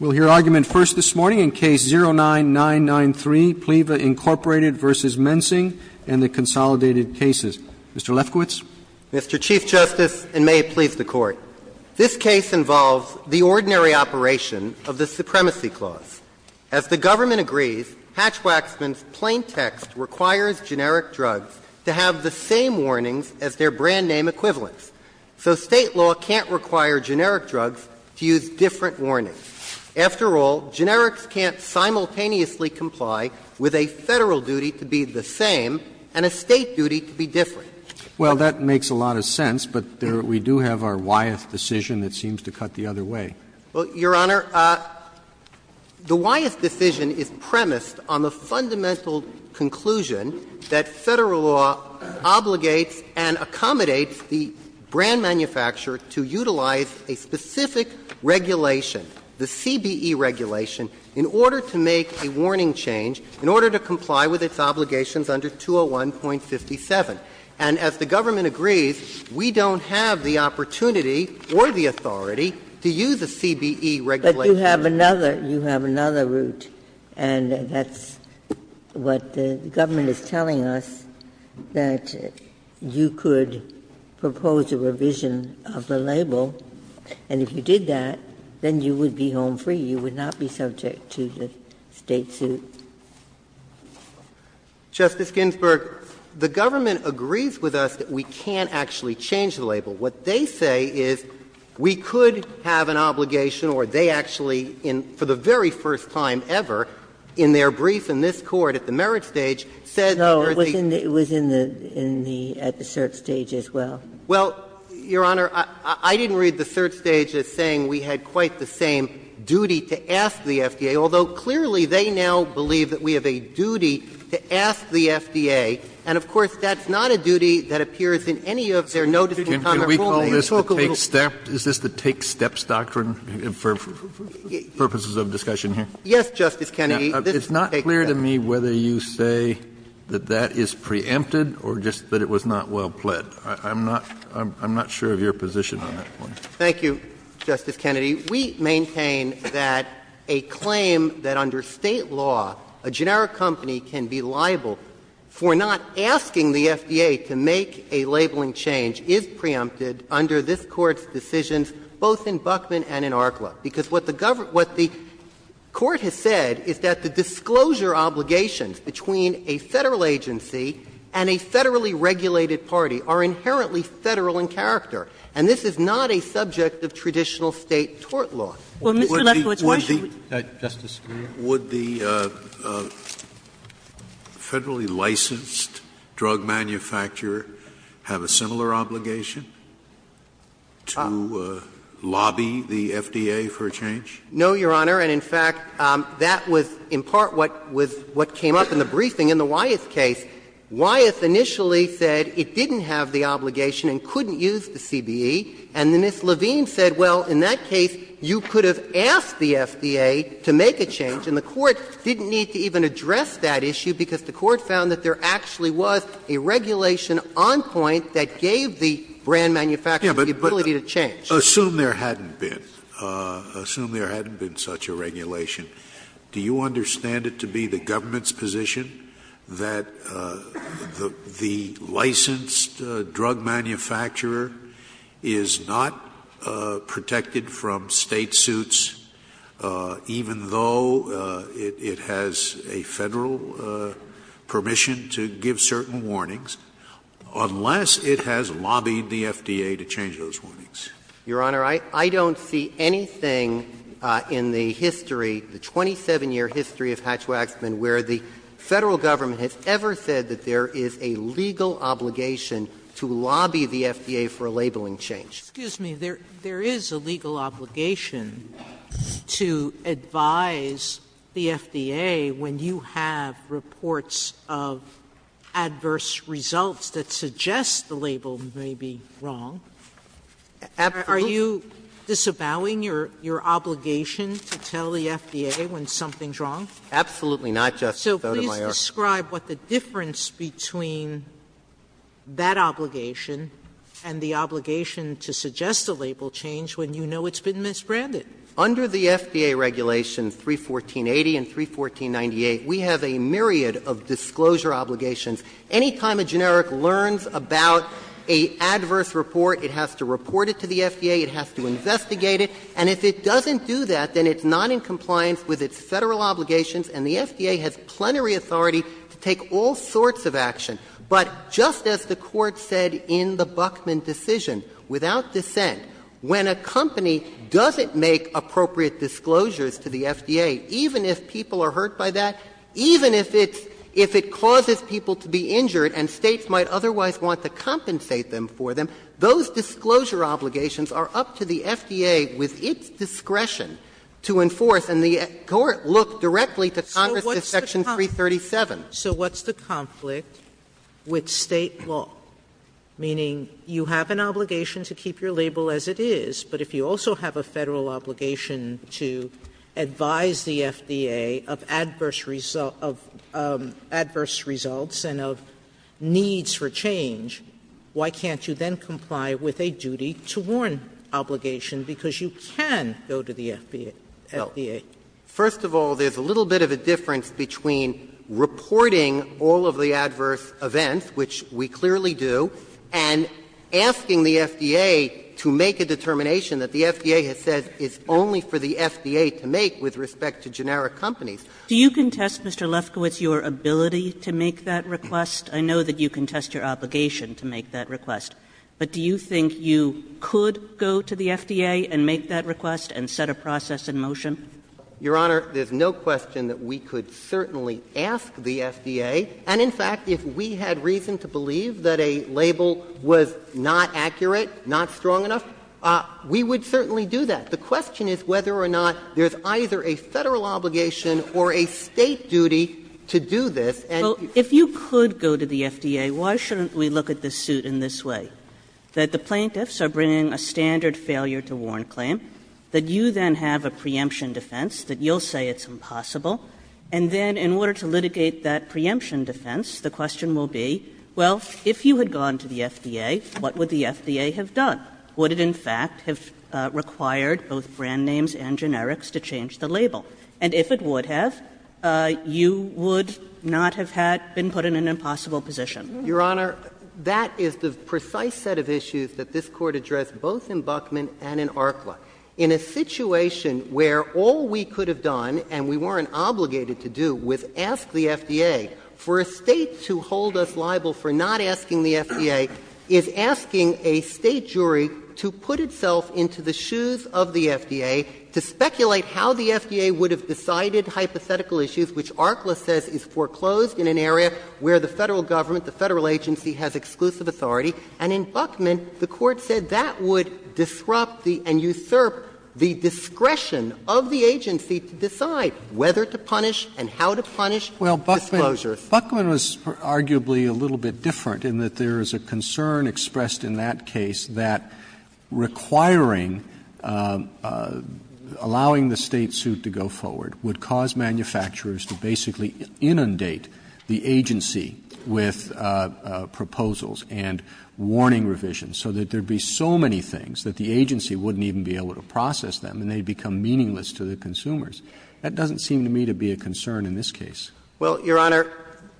We'll hear argument first this morning in Case 09-993, Pliva, Inc. v. Mensing and the consolidated cases. Mr. Lefkowitz. Mr. Chief Justice, and may it please the Court, this case involves the ordinary operation of the Supremacy Clause. As the government agrees, Hatch-Waxman's plain text requires generic drugs to have the same warnings as their brand name equivalents. So State law can't require generic drugs to use different warnings. After all, generics can't simultaneously comply with a Federal duty to be the same and a State duty to be different. Well, that makes a lot of sense, but we do have our why-eth decision that seems to cut the other way. Well, Your Honor, the why-eth decision is premised on the fundamental conclusion that Federal law obligates and accommodates the brand manufacturer to utilize a specific regulation, the CBE regulation, in order to make a warning change, in order to comply with its obligations under 201.57. And as the government agrees, we don't have the opportunity or the authority to use a CBE regulation. But you have another root, and that's what the government is telling us, that you could propose a revision of the label, and if you did that, then you would be home free, you would not be subject to the State suit. Justice Ginsburg, the government agrees with us that we can't actually change the in their brief in this Court at the merit stage, says that there are these other Ginsburg, it was in the, in the, at the cert stage as well. Well, Your Honor, I didn't read the cert stage as saying we had quite the same duty to ask the FDA, although clearly they now believe that we have a duty to ask the FDA. And, of course, that's not a duty that appears in any of their notice in Congress. Kennedy, can we call this the take-steps, is this the take-steps doctrine for, for purposes of discussion here? Yes, Justice Kennedy, this is the take-steps. Now, it's not clear to me whether you say that that is preempted or just that it was not well-pled. I'm not, I'm not sure of your position on that point. Thank you, Justice Kennedy. We maintain that a claim that under State law a generic company can be liable for not asking the FDA to make a labeling change is preempted under this Court's decision, both in Buckman and in ARCLA. Because what the government, what the Court has said is that the disclosure obligations between a Federal agency and a Federally regulated party are inherently Federal in character. And this is not a subject of traditional State tort law. Well, Mr. Lefkowitz, why should we? Would the, would the Federally licensed drug manufacturer have a similar obligation to lobby the FDA for a change? No, Your Honor. And in fact, that was in part what was, what came up in the briefing in the Wyeth case. Wyeth initially said it didn't have the obligation and couldn't use the CBE. And then Ms. Levine said, well, in that case, you could have asked the FDA to make a change, and the Court didn't need to even address that issue because the Court found that there actually was a regulation on point that gave the brand manufacturer the ability to change. Assume there hadn't been. Assume there hadn't been such a regulation. Do you understand it to be the government's position that the licensed drug manufacturer is not protected from State suits even though it has a Federal permission to give certain warnings, unless it has lobbied the FDA to change those warnings? Your Honor, I don't see anything in the history, the 27-year history of Hatch-Waxman where the Federal Government has ever said that there is a legal obligation to lobby the FDA for a labeling change. Sotomayorer, there is a legal obligation to advise the FDA when you have reports of adverse results that suggest the label may be wrong. Are you disavowing your obligation to tell the FDA when something is wrong? Absolutely not, Justice Sotomayor. Sotomayorer. So please describe what the difference between that obligation and the obligation to suggest a label change when you know it's been misbranded. Under the FDA Regulations 31480 and 31498, we have a myriad of disclosure obligations. Any time a generic learns about an adverse report, it has to report it to the FDA, it has to investigate it, and if it doesn't do that, then it's not in compliance with its Federal obligations, and the FDA has plenary authority to take all sorts of action. But just as the Court said in the Buckman decision, without dissent, when a company doesn't make appropriate disclosures to the FDA, even if people are hurt by that, even if it's — if it causes people to be injured and States might otherwise want to compensate them for them, those disclosure obligations are up to the FDA with its discretion to enforce, and the Court looked directly to Congress in Section Sotomayorer. So what's the conflict with State law? Meaning you have an obligation to keep your label as it is, but if you also have a Federal obligation to advise the FDA of adverse results and of needs for change, why can't you then comply with a duty to warn obligation because you can go to the FDA? First of all, there's a little bit of a difference between reporting all of the adverse events, which we clearly do, and asking the FDA to make a determination that the FDA has said it's only for the FDA to make with respect to generic companies. Kaganer, do you contest, Mr. Lefkowitz, your ability to make that request? I know that you contest your obligation to make that request, but do you think you could go to the FDA and make that request and set a process in motion? Your Honor, there's no question that we could certainly ask the FDA. And in fact, if we had reason to believe that a label was not accurate, not strong enough, we would certainly do that. The question is whether or not there's either a Federal obligation or a State duty to do this. So if you could go to the FDA, why shouldn't we look at the suit in this way, that the plaintiffs are bringing a standard failure to warn claim, that you then have a preemption defense that you'll say it's impossible, and then in order to litigate that preemption defense, the question will be, well, if you had gone to the FDA, what would the FDA have done? Would it in fact have required both brand names and generics to change the label? And if it would have, you would not have had been put in an impossible position. Your Honor, that is the precise set of issues that this Court addressed both in Buckman and in Arklah. In a situation where all we could have done, and we weren't obligated to do, was ask the FDA, for a State to hold us liable for not asking the FDA is asking a State jury to put itself into the shoes of the FDA, to speculate how the FDA would have decided hypothetical issues, which Arklah says is foreclosed in an area where the Federal government, the Federal agency has exclusive authority, and in Buckman, the Court said that would disrupt the and usurp the discretion of the agency to decide whether to punish and how to punish disclosures. Roberts, Buckman was arguably a little bit different in that there is a concern expressed in that case that requiring, allowing the State suit to go forward would cause manufacturers to basically inundate the agency with proposals and warning revisions, so that there would be so many things that the agency wouldn't even be able to process them, and they would become meaningless to the consumers. That doesn't seem to me to be a concern in this case. Well, Your Honor,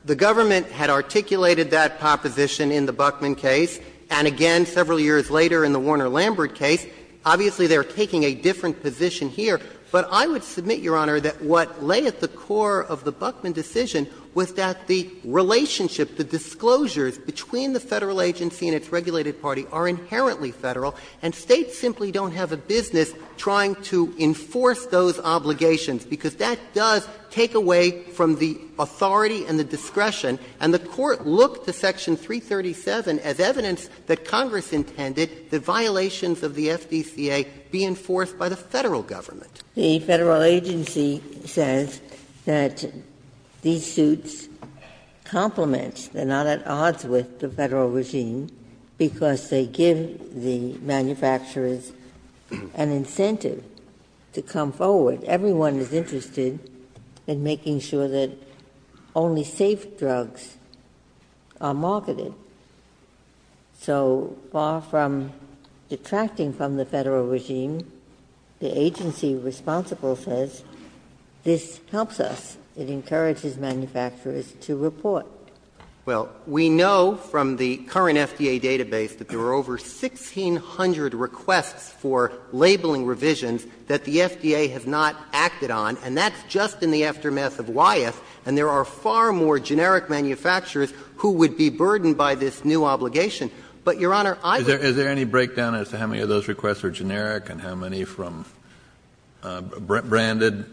the government had articulated that proposition in the Buckman case, and again several years later in the Warner-Lambert case. Obviously, they are taking a different position here. But I would submit, Your Honor, that what lay at the core of the Buckman decision was that the relationship, the disclosures between the Federal agency and its regulated party are inherently Federal, and States simply don't have a business trying to enforce those obligations, because that does take away from the authority and the discretion. And the Court looked to Section 337 as evidence that Congress intended that violations of the FDCA be enforced by the Federal government. The Federal agency says that these suits complement, they are not at odds with the So far from detracting from the Federal regime, the agency responsible says, this helps us, it encourages manufacturers to report. Well, we know from the current FDA database that there are over 1,600 requests for labeling revisions that the FDA has asked Congress to do, and we know that the FDA has not acted on, and that's just in the aftermath of Wyeth, and there are far more generic manufacturers who would be burdened by this new obligation. But, Your Honor, I would say— Kennedy, is there any breakdown as to how many of those requests are generic and how many from branded?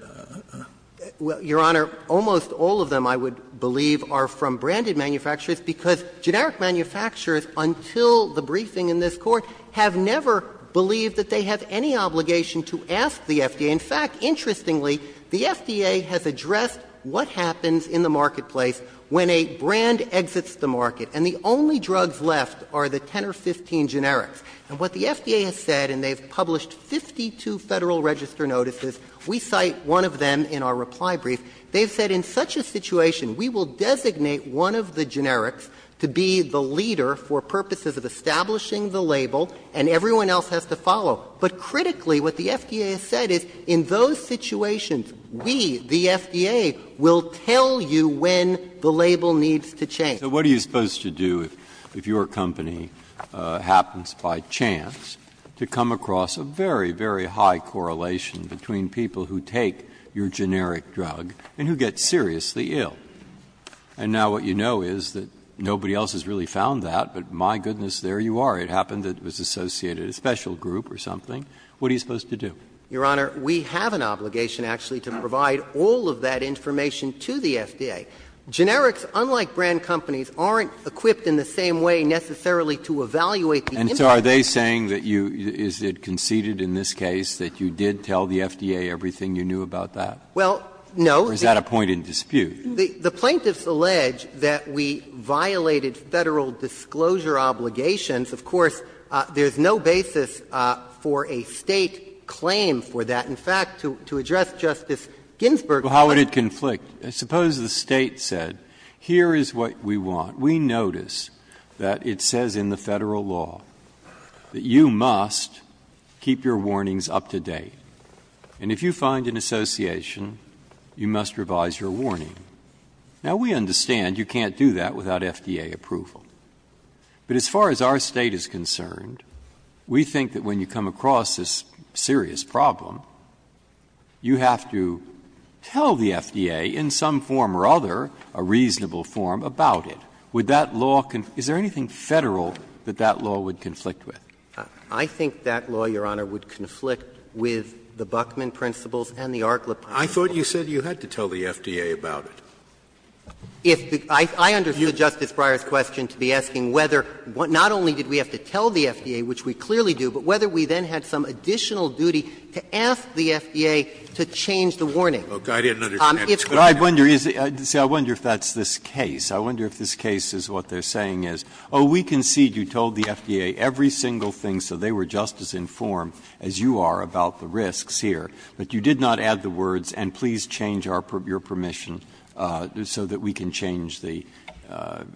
Well, Your Honor, almost all of them, I would believe, are from branded manufacturers, because generic manufacturers, until the briefing in this Court, have never believed that they have any obligation to ask the FDA. In fact, interestingly, the FDA has addressed what happens in the marketplace when a brand exits the market, and the only drugs left are the 10 or 15 generics. And what the FDA has said, and they've published 52 Federal register notices, we cite one of them in our reply brief, they've said, in such a situation, we will designate one of the generics to be the leader for purposes of establishing the label, and everyone else has to follow. But critically, what the FDA has said is, in those situations, we, the FDA, will tell you when the label needs to change. So what are you supposed to do if your company happens, by chance, to come across a very, very high correlation between people who take your generic drug and who get seriously ill? And now what you know is that nobody else has really found that, but my goodness, there you are. It happened that it was associated with a special group or something. What are you supposed to do? Your Honor, we have an obligation, actually, to provide all of that information to the FDA. Generics, unlike brand companies, aren't equipped in the same way, necessarily, to evaluate the impact. And so are they saying that you – is it conceded in this case that you did tell the FDA everything you knew about that? Well, no. Or is that a point in dispute? The plaintiffs allege that we violated Federal disclosure obligations. Of course, there's no basis for a State claim for that. In fact, to address Justice Ginsburg's point of view. Well, how would it conflict? Suppose the State said, here is what we want. We notice that it says in the Federal law that you must keep your warnings up to date. And if you find an association, you must revise your warning. Now, we understand you can't do that without FDA approval. But as far as our State is concerned, we think that when you come across this serious problem, you have to tell the FDA in some form or other, a reasonable form, about it. Would that law – is there anything Federal that that law would conflict with? I think that law, Your Honor, would conflict with the Buckman principles and the Arklip principles. I thought you said you had to tell the FDA about it. If the – I understood Justice Breyer's question to be asking whether not only did we have to tell the FDA, which we clearly do, but whether we then had some additional duty to ask the FDA to change the warning. If the warning is changed. Breyer, I wonder if that's this case. I wonder if this case is what they're saying is, oh, we concede you told the FDA every single thing so they were just as informed as you are about the risks here, but you did not add the words, and please change your permission. So that we can change the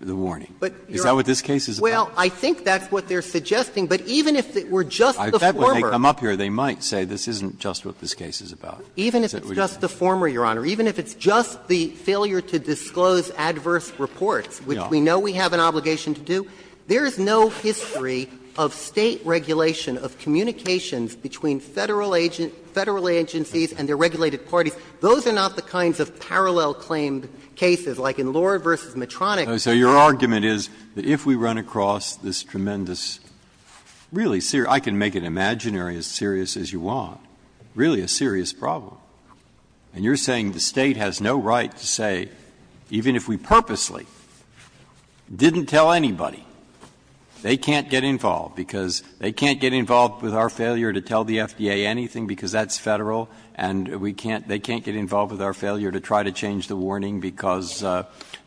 warning. Is that what this case is about? Well, I think that's what they're suggesting. But even if it were just the former. I bet when they come up here, they might say this isn't just what this case is about. Even if it's just the former, Your Honor. Even if it's just the failure to disclose adverse reports, which we know we have an obligation to do, there is no history of State regulation of communications between Federal agencies and their regulated parties. Those are not the kinds of parallel claimed cases, like in Lohr v. Medtronic. So your argument is that if we run across this tremendous, really serious, I can make it imaginary as serious as you want, really a serious problem, and you're saying the State has no right to say, even if we purposely didn't tell anybody, they can't get involved, because they can't get involved with our failure to tell the FDA anything, because that's Federal, and we can't — they can't get involved with our failure to try to change the warning, because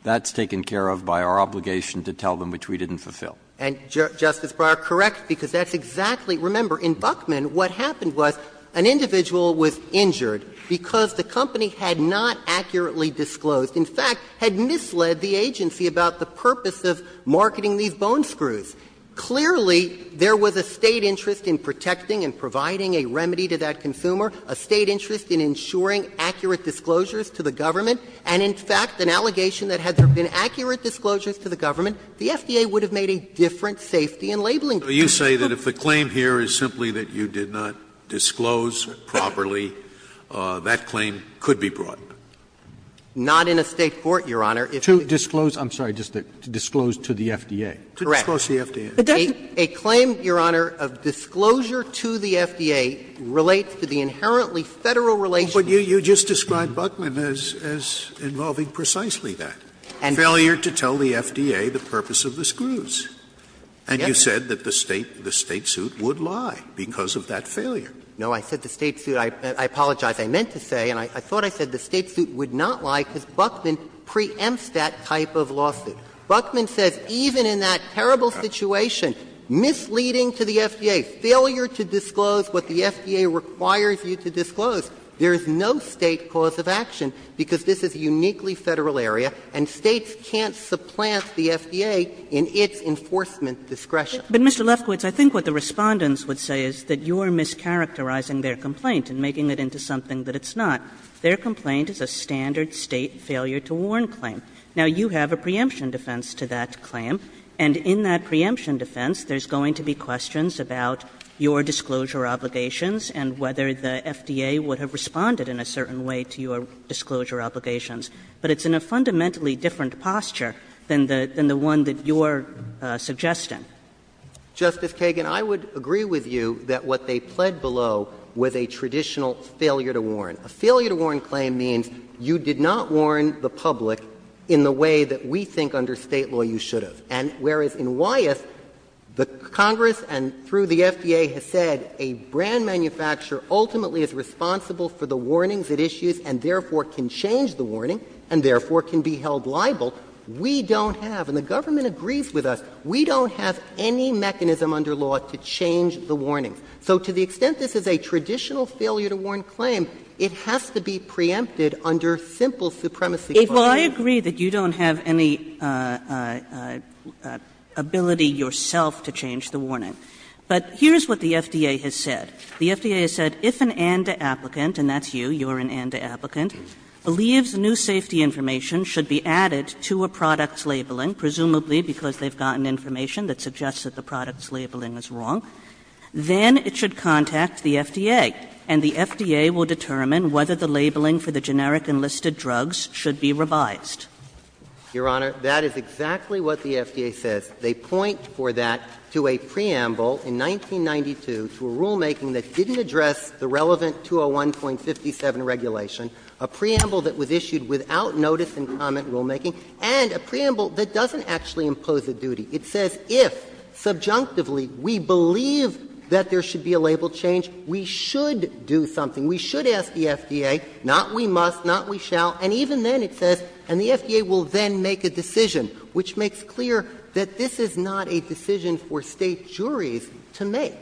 that's taken care of by our obligation to tell them, which we didn't fulfill. And, Justice Breyer, correct, because that's exactly — remember, in Buckman, what happened was an individual was injured because the company had not accurately disclosed, in fact, had misled the agency about the purpose of marketing these bone screws. Clearly, there was a State interest in protecting and providing a remedy to that consumer, a State interest in ensuring accurate disclosures to the government, and in fact, an allegation that had there been accurate disclosures to the government, the FDA would have made a different safety and labeling claim. Scalia, you say that if the claim here is simply that you did not disclose properly, that claim could be brought? Not in a State court, Your Honor. To disclose — I'm sorry, just to disclose to the FDA. Correct. A claim, Your Honor, of disclosure to the FDA relates to the inherently Federal relationship. But you just described Buckman as involving precisely that, failure to tell the FDA the purpose of the screws. And you said that the State suit would lie because of that failure. No, I said the State suit — I apologize. I meant to say, and I thought I said the State suit would not lie because Buckman preempts that type of lawsuit. Buckman says even in that terrible situation, misleading to the FDA, failure to disclose what the FDA requires you to disclose, there is no State cause of action because this is a uniquely Federal area, and States can't supplant the FDA in its enforcement discretion. But, Mr. Lefkowitz, I think what the Respondents would say is that you're mischaracterizing their complaint and making it into something that it's not. Their complaint is a standard State failure to warn claim. Now, you have a preemption defense to that claim, and in that preemption defense, there's going to be questions about your disclosure obligations and whether the FDA would have responded in a certain way to your disclosure obligations. But it's in a fundamentally different posture than the one that you're suggesting. Justice Kagan, I would agree with you that what they pled below was a traditional failure to warn. A failure to warn claim means you did not warn the public in the way that we think under State law you should have. And whereas in Wyeth, the Congress and through the FDA has said a brand manufacturer ultimately is responsible for the warnings, the issues, and therefore can change the warning and therefore can be held liable, we don't have, and the government agrees with us, we don't have any mechanism under law to change the warnings. So to the extent this is a traditional failure to warn claim, it has to be preempted under simple supremacy. Kagan. Kagan. Well, I agree that you don't have any ability yourself to change the warning, but here's what the FDA has said. The FDA has said, if an and applicant, and that's you, you're an and applicant, believes new safety information should be added to a product's labeling, presumably because they've gotten information that suggests that the product's labeling is wrong, then it should contact the FDA, and the FDA will determine whether the labeling for the generic enlisted drugs should be revised. Your Honor, that is exactly what the FDA says. They point for that to a preamble in 1992 to a rulemaking that didn't address the relevant 201.57 regulation, a preamble that was issued without notice and comment rulemaking, and a preamble that doesn't actually impose a duty. It says if, subjunctively, we believe that there should be a label change, we should do something. We should ask the FDA, not we must, not we shall, and even then it says, and the FDA will then make a decision, which makes clear that this is not a decision for State juries to make.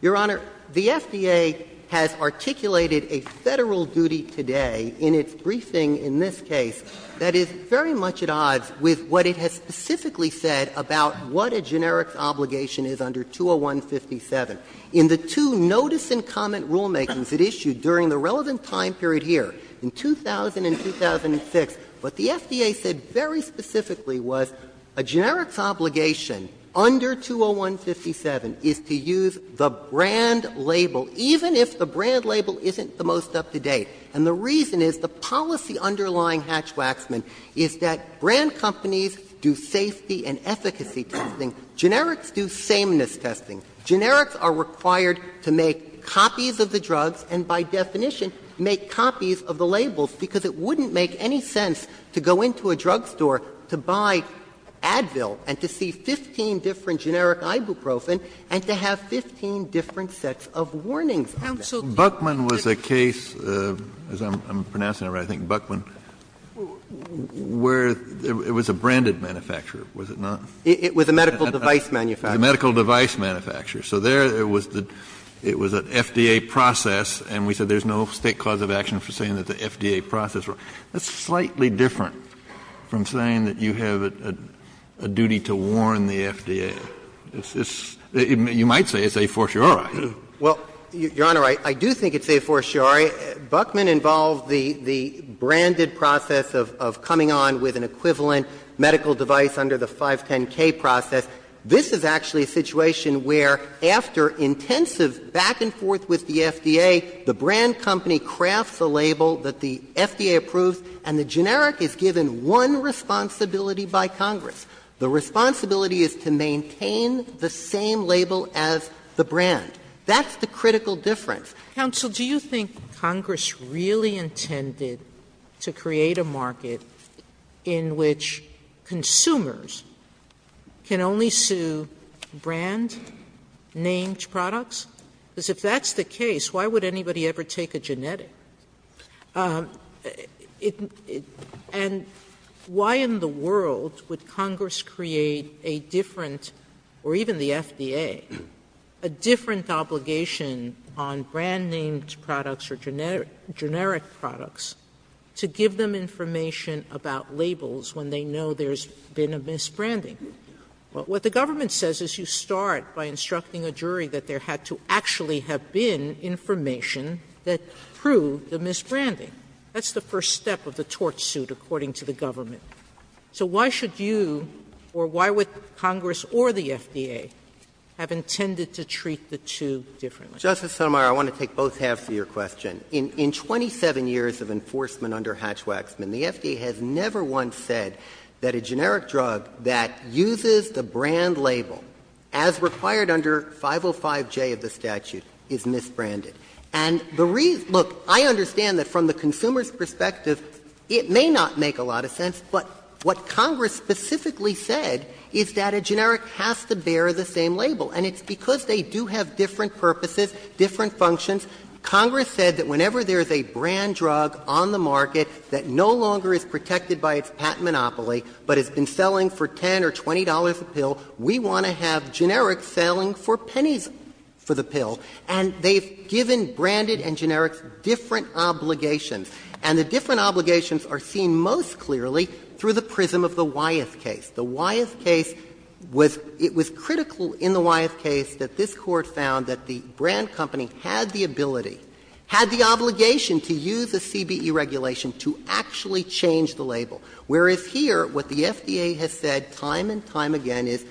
Your Honor, the FDA has articulated a Federal duty today in its briefing in this case that is very much at odds with what it has specifically said about what a generic obligation is under 201.57. In the two notice and comment rulemakings it issued during the relevant time period here, in 2000 and 2006, what the FDA said very specifically was a generic obligation under 201.57 is to use the brand label, even if the brand label isn't the most up-to-date. And the reason is, the policy underlying Hatch-Waxman is that brand companies do safety and efficacy testing, generics do sameness testing. Generics are required to make copies of the drugs and, by definition, make copies of the labels, because it wouldn't make any sense to go into a drugstore to buy Advil and to see 15 different generic ibuprofen and to have 15 different sets of warnings. So Buckman was a case, as I'm pronouncing it right, I think, Buckman, where it was a branded manufacturer, was it not? It was a medical device manufacturer. It was a medical device manufacturer. So there it was the FDA process, and we said there's no State cause of action for saying that the FDA process was wrong. That's slightly different from saying that you have a duty to warn the FDA. It's this you might say it's a fortiori. Well, Your Honor, I do think it's a fortiori. Buckman involved the branded process of coming on with an equivalent medical device under the 510K process. This is actually a situation where, after intensive back and forth with the FDA, the brand company crafts a label that the FDA approves, and the generic is given one responsibility by Congress. The responsibility is to maintain the same label as the brand. That's the critical difference. Sotomayor, do you think Congress really intended to create a market in which consumers can only sue brand-named products? Because if that's the case, why would anybody ever take a genetic? And why in the world would Congress create a different, or even the FDA, a different obligation on brand-named products or generic products to give them information about labels when they know there's been a misbranding? What the government says is you start by instructing a jury that there had to actually have been information that proved the misbranding. That's the first step of the torch suit, according to the government. So why should you, or why would Congress or the FDA, have intended to treat the two differently? Justice Sotomayor, I want to take both halves of your question. In 27 years of enforcement under Hatch-Waxman, the FDA has never once said that a generic drug that uses the brand label as required under 505J of the statute is misbranded. And the reason — look, I understand that from the consumer's perspective, it may not make a lot of sense, but what Congress specifically said is that a generic has to bear the same label. And it's because they do have different purposes, different functions. Congress said that whenever there is a brand drug on the market that no longer is protected by its patent monopoly, but has been selling for $10 or $20 a pill, we want to have generic selling for pennies for the pill. And they've given branded and generic different obligations. And the different obligations are seen most clearly through the prism of the Wyeth case. The Wyeth case was — it was critical in the Wyeth case that this Court found that the brand company had the ability, had the obligation to use a CBE regulation to actually change the label. Whereas here, what the FDA has said time and time again is,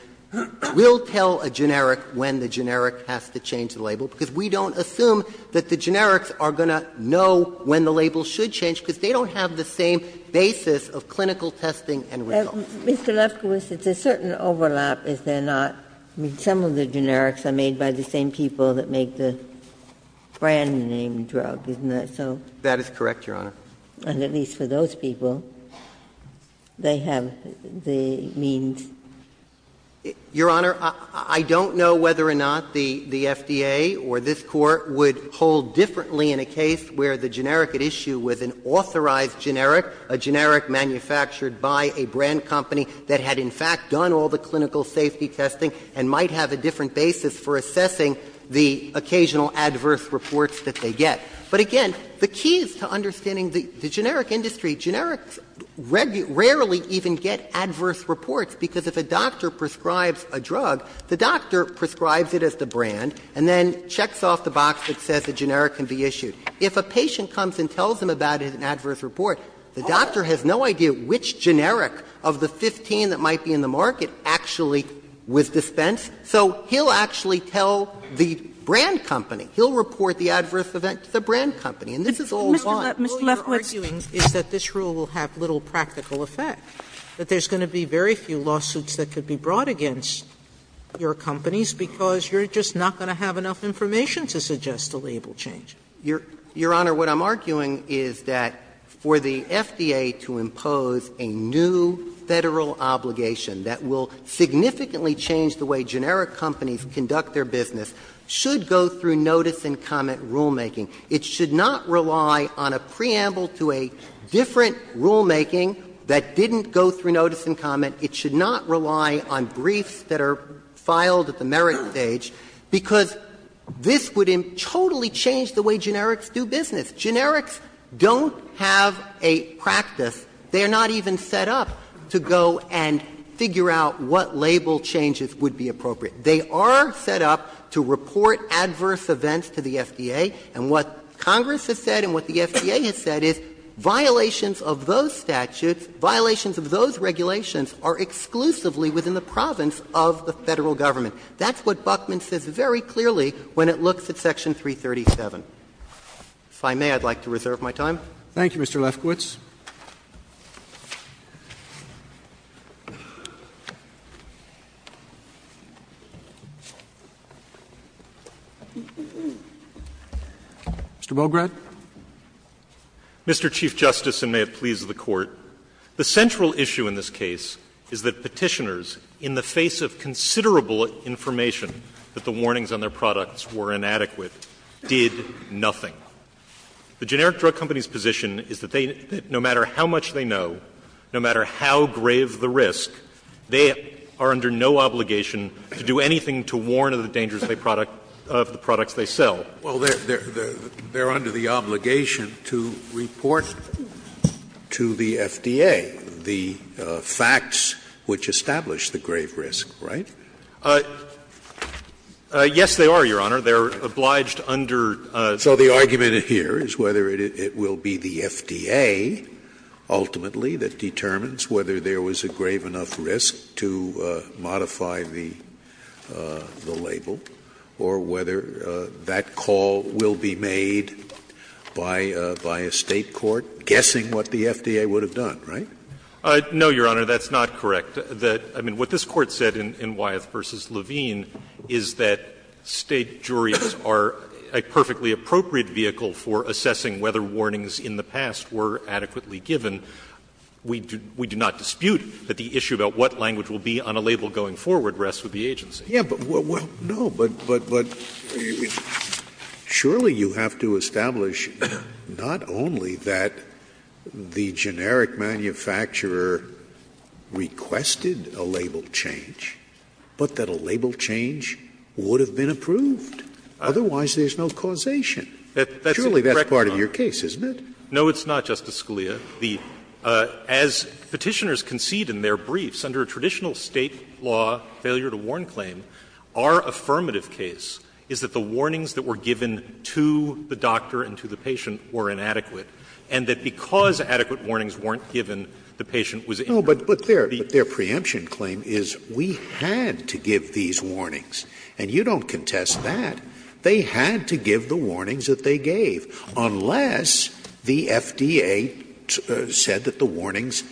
we'll tell a generic when the generic has to change the label, because we don't assume that the generics are going to know when the label should change, because they don't have the same basis of clinical testing and results. Ginsburg. Mr. Lefkowitz, it's a certain overlap, is there not? I mean, some of the generics are made by the same people that make the brand-name drug, isn't that so? Lefkowitz. That is correct, Your Honor. Ginsburg. And at least for those people, they have the means. Lefkowitz. Your Honor, I don't know whether or not the FDA or this Court would hold differently in a case where the generic at issue was an authorized generic, a generic manufactured by a brand company that had in fact done all the clinical safety testing and might have a different basis for assessing the occasional adverse reports that they get. But again, the key is to understanding the generic industry. Generics rarely even get adverse reports, because if a doctor prescribes a drug, the doctor prescribes it as the brand and then checks off the box that says the generic can be issued. If a patient comes and tells him about an adverse report, the doctor has no idea which generic of the 15 that might be in the market actually was dispensed, so he'll actually tell the brand company. He'll report the adverse event to the brand company. And this is all one. Sotomayor, all you're arguing is that this rule will have little practical effect, that there's going to be very few lawsuits that could be brought against your companies because you're just not going to have enough information to suggest a label change. Your Honor, what I'm arguing is that for the FDA to impose a new Federal obligation that will significantly change the way generic companies conduct their business should go through notice and comment rulemaking. It should not rely on a preamble to a different rulemaking that didn't go through notice and comment. It should not rely on briefs that are filed at the merit stage, because this would totally change the way generics do business. Generics don't have a practice. They are not even set up to go and figure out what label changes would be appropriate. They are set up to report adverse events to the FDA. And what Congress has said and what the FDA has said is violations of those statutes, violations of those regulations, are exclusively within the province of the Federal government. That's what Buckman says very clearly when it looks at Section 337. If I may, I'd like to reserve my time. Roberts, thank you, Mr. Lefkowitz. Mr. Bograd. Mr. Chief Justice, and may it please the Court. The central issue in this case is that Petitioners, in the face of considerable information that the warnings on their products were inadequate, did nothing. The generic drug company's position is that they, no matter how much they know, no matter how grave the risk, they are under no obligation to do anything to warn of the dangers of the product of the products they sell. Scalia, well, they're under the obligation to report to the FDA the facts which establish the grave risk, right? Yes, they are, Your Honor. They're obliged under the law. So the argument here is whether it will be the FDA ultimately that determines whether there was a grave enough risk to modify the label, or whether that call will be made by a State court, guessing what the FDA would have done, right? No, Your Honor, that's not correct. I mean, what this Court said in Wyeth v. Levine is that State juries are a perfectly appropriate vehicle for assessing whether warnings in the past were adequately given. We do not dispute that the issue about what language will be on a label going forward rests with the agency. Scalia, but surely you have to establish not only that the generic manufacturer requested a label change, but that a label change would have been approved. Otherwise, there's no causation. Surely that's part of your case, isn't it? No, it's not, Justice Scalia. As Petitioners concede in their briefs, under a traditional State law failure-to-warn claim, our affirmative case is that the warnings that were given to the doctor and to the patient were inadequate, and that because adequate warnings weren't given, the patient was inadequate. No, but their preemption claim is we had to give these warnings, and you don't contest that. They had to give the warnings that they gave, unless the FDA said that the warnings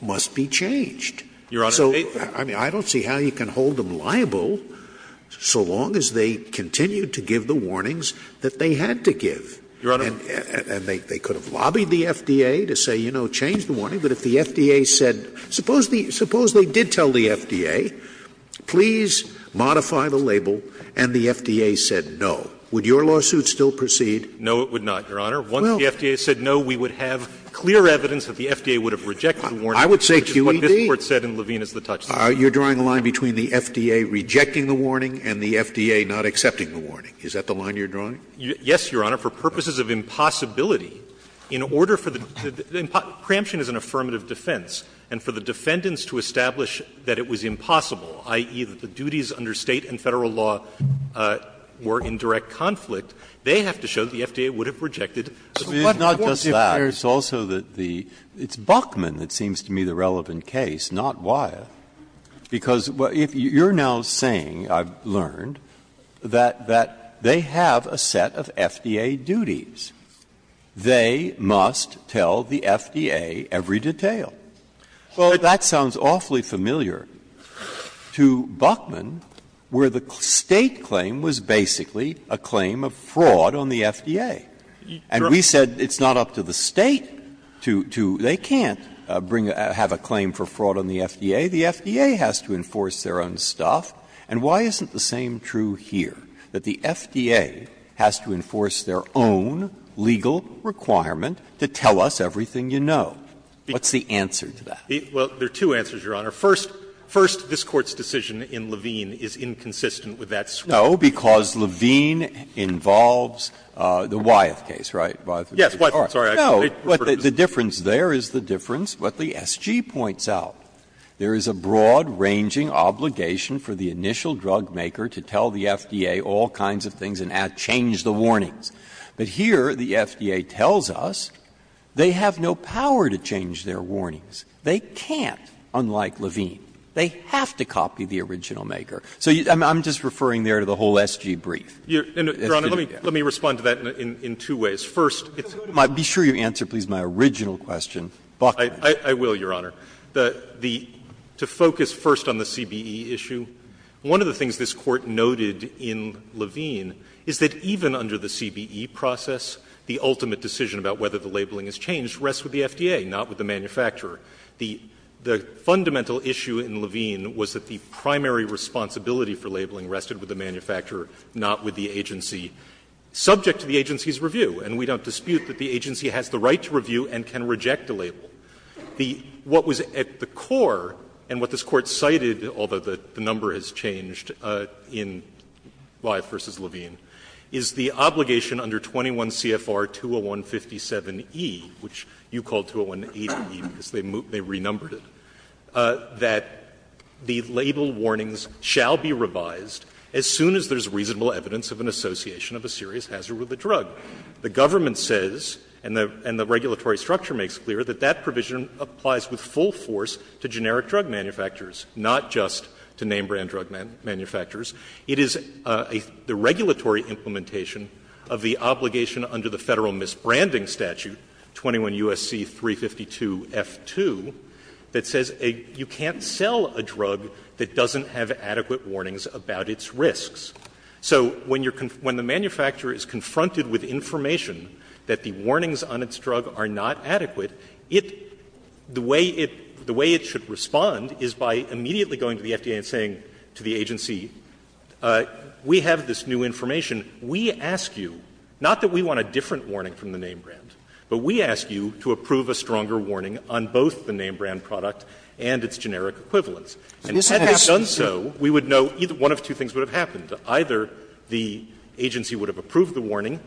must be changed. Your Honor, I don't see how you can hold them liable so long as they continue to give the warnings that they had to give. Your Honor. And they could have lobbied the FDA to say, you know, change the warning, but if the FDA said, suppose they did tell the FDA, please modify the label, and the FDA said no, would your lawsuit still proceed? No, it would not, Your Honor. Once the FDA said no, we would have clear evidence that the FDA would have rejected the warning. I would say QED. Which is what this Court said in Levine as the touchstone. You're drawing a line between the FDA rejecting the warning and the FDA not accepting the warning. Is that the line you're drawing? Yes, Your Honor. For purposes of impossibility, in order for the – preemption is an affirmative defense, and for the defendants to establish that it was impossible, i.e., that the FDA was in direct conflict, they have to show the FDA would have rejected the warning. Breyer, it's Buckman that seems to me the relevant case, not Wyeth, because you're now saying, I've learned, that they have a set of FDA duties. They must tell the FDA every detail. Well, that sounds awfully familiar to Buckman, where the State claim was basically a claim of fraud on the FDA. And we said it's not up to the State to – they can't bring a – have a claim for fraud on the FDA. The FDA has to enforce their own stuff. And why isn't the same true here, that the FDA has to enforce their own legal requirement to tell us everything you know? What's the answer to that? Well, there are two answers, Your Honor. First, this Court's decision in Levine is inconsistent with that switch. No, because Levine involves the Wyeth case, right? Yes, Wyeth. Sorry, I didn't mean to refer to this. No, but the difference there is the difference what the SG points out. There is a broad-ranging obligation for the initial drugmaker to tell the FDA all kinds of things and change the warnings. But here, the FDA tells us they have no power to change their warnings. They can't, unlike Levine. They have to copy the original maker. So I'm just referring there to the whole SG brief. Your Honor, let me respond to that in two ways. First, it's my – be sure you answer, please, my original question, Buckman. I will, Your Honor. The – to focus first on the CBE issue, one of the things this Court noted in Levine is that even under the CBE process, the ultimate decision about whether the labeling is changed rests with the FDA, not with the manufacturer. The fundamental issue in Levine was that the primary responsibility for labeling rested with the manufacturer, not with the agency subject to the agency's review. And we don't dispute that the agency has the right to review and can reject a label. The – what was at the core and what this Court cited, although the number has changed in Lyfe v. Levine, is the obligation under 21 CFR 20157E, which you called 20180E because they renumbered it, that the label warnings shall be revised as soon as there's reasonable evidence of an association of a serious hazard with a drug. The government says, and the regulatory structure makes clear, that that provision applies with full force to generic drug manufacturers, not just to name-brand drug manufacturers. It is a – the regulatory implementation of the obligation under the Federal Misbranding Statute, 21 U.S.C. 352F2, that says you can't sell a drug that doesn't have adequate warnings about its risks. So when you're – when the manufacturer is confronted with information that the warnings on its drug are not adequate, it – the way it – the way it should respond is by saying to the agency, we have this new information. We ask you, not that we want a different warning from the name-brand, but we ask you to approve a stronger warning on both the name-brand product and its generic equivalents. And had they done so, we would know either – one of two things would have happened. Either the agency would have approved the warning,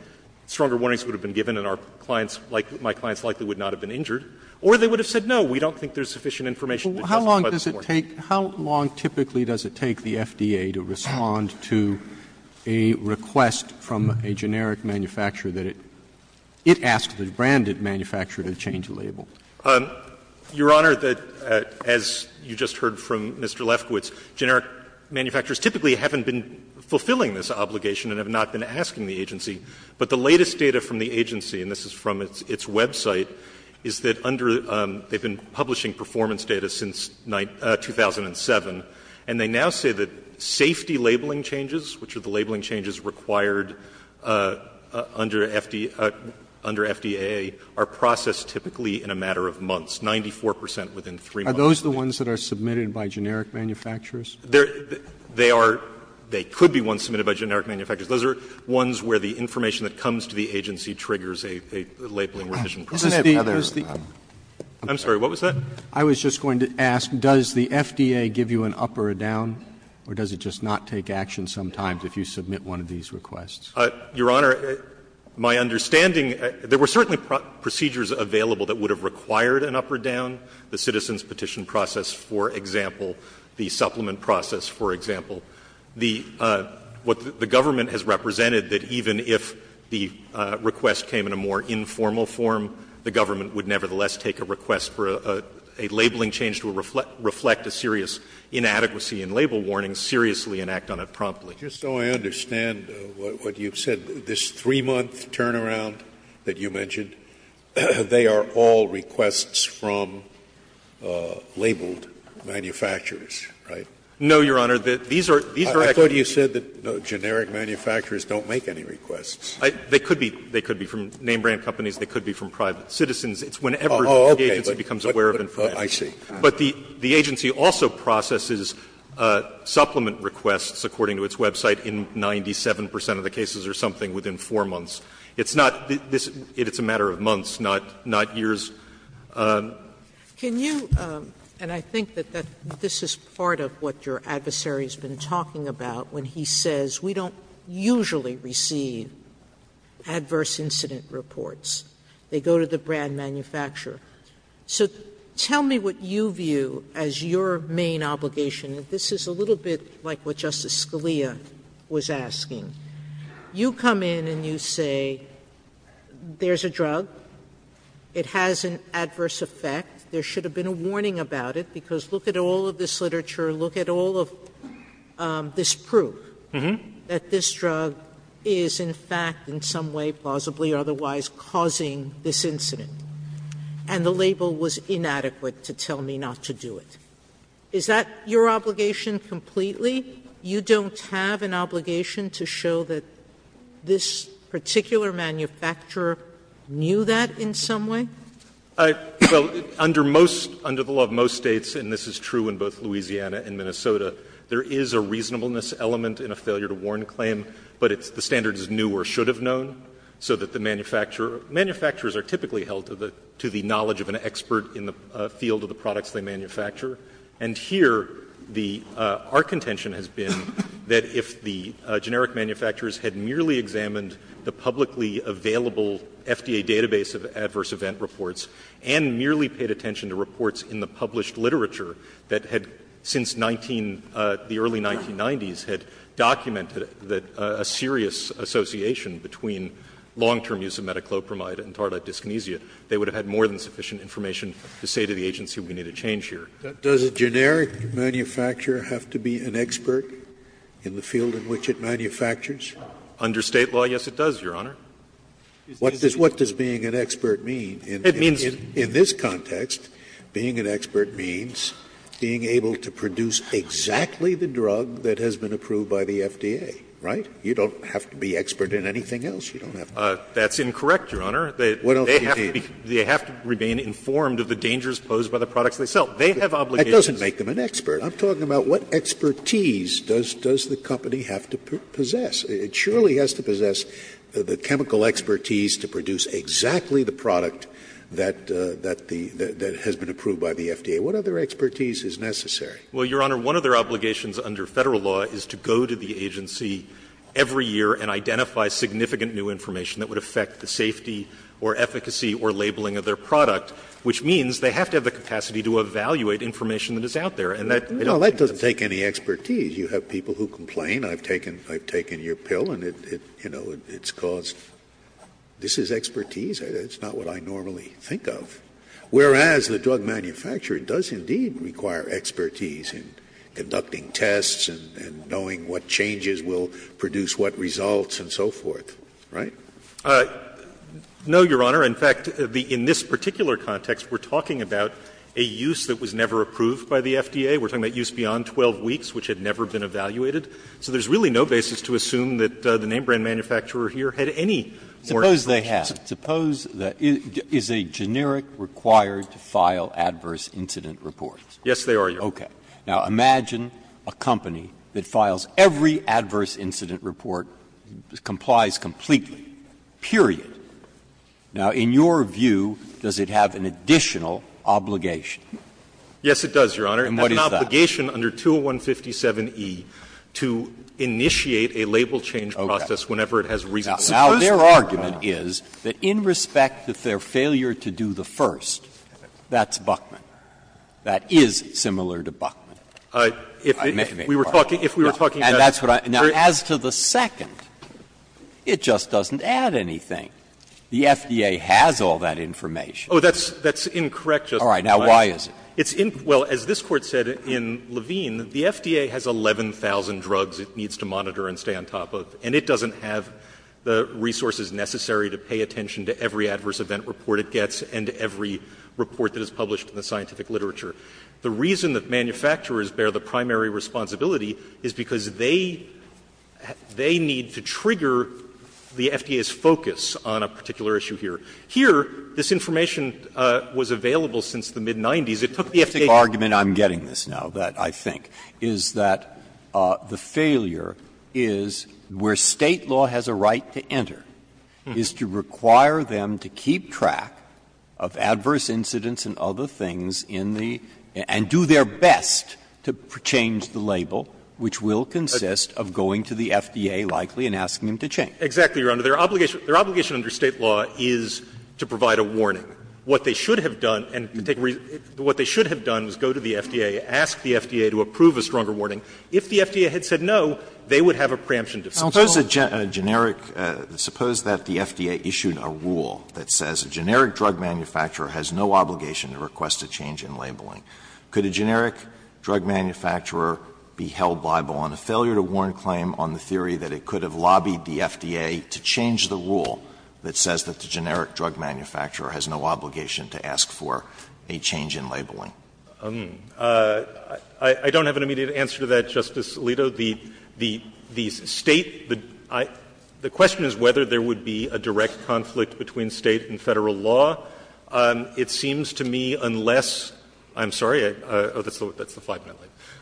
stronger warnings would have been given and our clients – my clients likely would not have been injured, or they would have said no, we don't think there's sufficient information to justify this warning. Roberts. How long typically does it take the FDA to respond to a request from a generic manufacturer that it – it asks the branded manufacturer to change the label? Your Honor, as you just heard from Mr. Lefkowitz, generic manufacturers typically haven't been fulfilling this obligation and have not been asking the agency. But the latest data from the agency, and this is from its website, is that under the – they've been publishing performance data since 2007, and they now say that safety labeling changes, which are the labeling changes required under FDA, are processed typically in a matter of months, 94 percent within 3 months. Are those the ones that are submitted by generic manufacturers? They are – they could be ones submitted by generic manufacturers. Those are ones where the information that comes to the agency triggers a labeling revision process. This is the – this is the – I'm sorry, what was that? I was just going to ask, does the FDA give you an up or a down, or does it just not take action sometimes if you submit one of these requests? Your Honor, my understanding – there were certainly procedures available that would have required an up or down, the citizen's petition process, for example, the supplement process, for example. The – what the government has represented, that even if the request came in a more informal form, the government would nevertheless take a request for a – a labeling change to reflect a serious inadequacy in label warnings seriously and act on it promptly. Just so I understand what you've said, this 3-month turnaround that you mentioned, they are all requests from labeled manufacturers, right? No, Your Honor, these are – these are actually I thought you said that generic manufacturers don't make any requests. They could be – they could be from name-brand companies, they could be from private citizens. It's whenever the agency becomes aware of information. Oh, okay, I see. But the agency also processes supplement requests, according to its website, in 97 percent of the cases or something within 4 months. It's not – it's a matter of months, not years. Sotomayor, and I think that this is part of what your adversary has been talking about when he says we don't usually receive adverse incident reports. They go to the brand manufacturer. So tell me what you view as your main obligation. This is a little bit like what Justice Scalia was asking. You come in and you say there's a drug, it has an adverse effect, there should have been a warning about it, because look at all of this literature, look at all of this proof that this drug is in fact in some way, plausibly, otherwise causing this incident, and the label was inadequate to tell me not to do it. Is that your obligation completely? You don't have an obligation to show that this particular manufacturer knew that in some way? Well, under most – under the law of most States, and this is true in both Louisiana and Minnesota, there is a reasonableness element in a failure-to-warn claim, but it's the standard is new or should have known, so that the manufacturer – manufacturers are typically held to the knowledge of an expert in the field of the products they manufacture. And here, the – our contention has been that if the generic manufacturers had merely examined the publicly available FDA database of adverse event reports and merely paid attention to reports in the published literature that had since 19 – the early 1990s had documented that a serious association between long-term use of metoclopramide and tardite dyskinesia, they would have had more than sufficient information to say to the agency we need a change here. Does a generic manufacturer have to be an expert in the field in which it manufactures? Under State law, yes, it does, Your Honor. What does being an expert mean? In this context, being an expert means being able to produce exactly the drug that has been approved by the FDA, right? You don't have to be expert in anything else. You don't have to. That's incorrect, Your Honor. What else do you mean? They have to remain informed of the dangers posed by the products they sell. They have obligations. That doesn't make them an expert. I'm talking about what expertise does the company have to possess. It surely has to possess the chemical expertise to produce exactly the product that the – that has been approved by the FDA. What other expertise is necessary? Well, Your Honor, one of their obligations under Federal law is to go to the agency every year and identify significant new information that would affect the safety or efficacy or labeling of their product, which means they have to have the capacity to evaluate information that is out there. And that doesn't take any expertise. You have people who complain. I've taken – I've taken your pill and it, you know, it's caused – this is expertise? It's not what I normally think of. Whereas, the drug manufacturer does indeed require expertise in conducting tests and knowing what changes will produce what results and so forth, right? No, Your Honor. In fact, in this particular context, we're talking about a use that was never approved by the FDA. We're talking about use beyond 12 weeks, which had never been evaluated. So there's really no basis to assume that the name-brand manufacturer here had any more expertise. Suppose they have. Suppose that – is a generic required to file adverse incident reports? Yes, they are, Your Honor. Okay. Now, imagine a company that files every adverse incident report, complies completely, period. Now, in your view, does it have an additional obligation? Yes, it does, Your Honor. And what is that? It's an obligation under 20157e to initiate a label change process whenever it has reason to do that. Now, their argument is that in respect to their failure to do the first, that's Buckman. That is similar to Buckman. If we were talking about the first. And that's what I – now, as to the second, it just doesn't add anything. The FDA has all that information. Oh, that's – that's incorrect, Justice Breyer. All right. Now, why is it? It's in – well, as this Court said in Levine, the FDA has 11,000 drugs it needs to monitor and stay on top of, and it doesn't have the resources necessary to pay attention to every adverse event report it gets and every report that is published in the scientific literature. The reason that manufacturers bear the primary responsibility is because they – they need to trigger the FDA's focus on a particular issue here. Here, this information was available since the mid-'90s. It took the FDA's focus on a particular issue. Breyer. The only argument I'm getting this now that I think is that the failure is where State law has a right to enter is to require them to keep track of adverse incidents and other things in the – and do their best to change the label, which will consist of going to the FDA, likely, and asking them to change. Exactly, Your Honor. Their obligation – their obligation under State law is to provide a warning. What they should have done and – what they should have done is go to the FDA, ask the FDA to approve a stronger warning. If the FDA had said no, they would have a preemption defense. Alito. Suppose a generic – suppose that the FDA issued a rule that says a generic drug manufacturer has no obligation to request a change in labeling. Could a generic drug manufacturer be held liable on a failure to warn claim on the rule that says that the generic drug manufacturer has no obligation to ask for a change in labeling? I don't have an immediate answer to that, Justice Alito. The State – the question is whether there would be a direct conflict between State and Federal law. It seems to me unless – I'm sorry, that's the five minute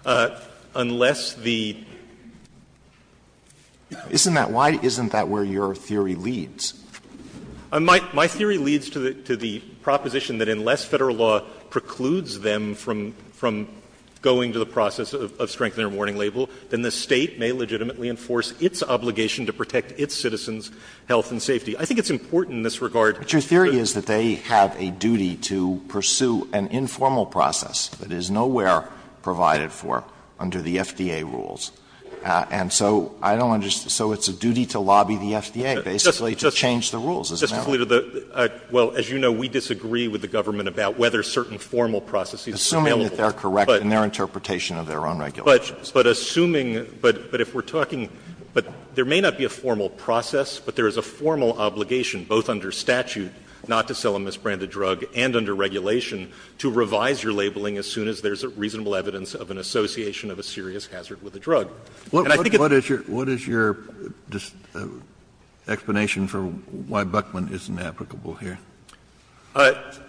limit. Unless the – Isn't that why – isn't that where your theory leads? My theory leads to the proposition that unless Federal law precludes them from going to the process of strengthening their warning label, then the State may legitimately enforce its obligation to protect its citizens' health and safety. I think it's important in this regard. But your theory is that they have a duty to pursue an informal process that is nowhere provided for under the FDA rules. And so I don't understand. So it's a duty to lobby the FDA basically to change the rules, isn't it? Justice Alito, the – well, as you know, we disagree with the government about whether certain formal processes are available. Assuming that they're correct in their interpretation of their own regulations. But assuming – but if we're talking – but there may not be a formal process, but there is a formal obligation both under statute not to sell a misbranded drug and under regulation to revise your labeling as soon as there's a reasonable evidence of an association of a serious hazard with a drug. And I think it's – Kennedy, what is your explanation for why Buckman isn't applicable here?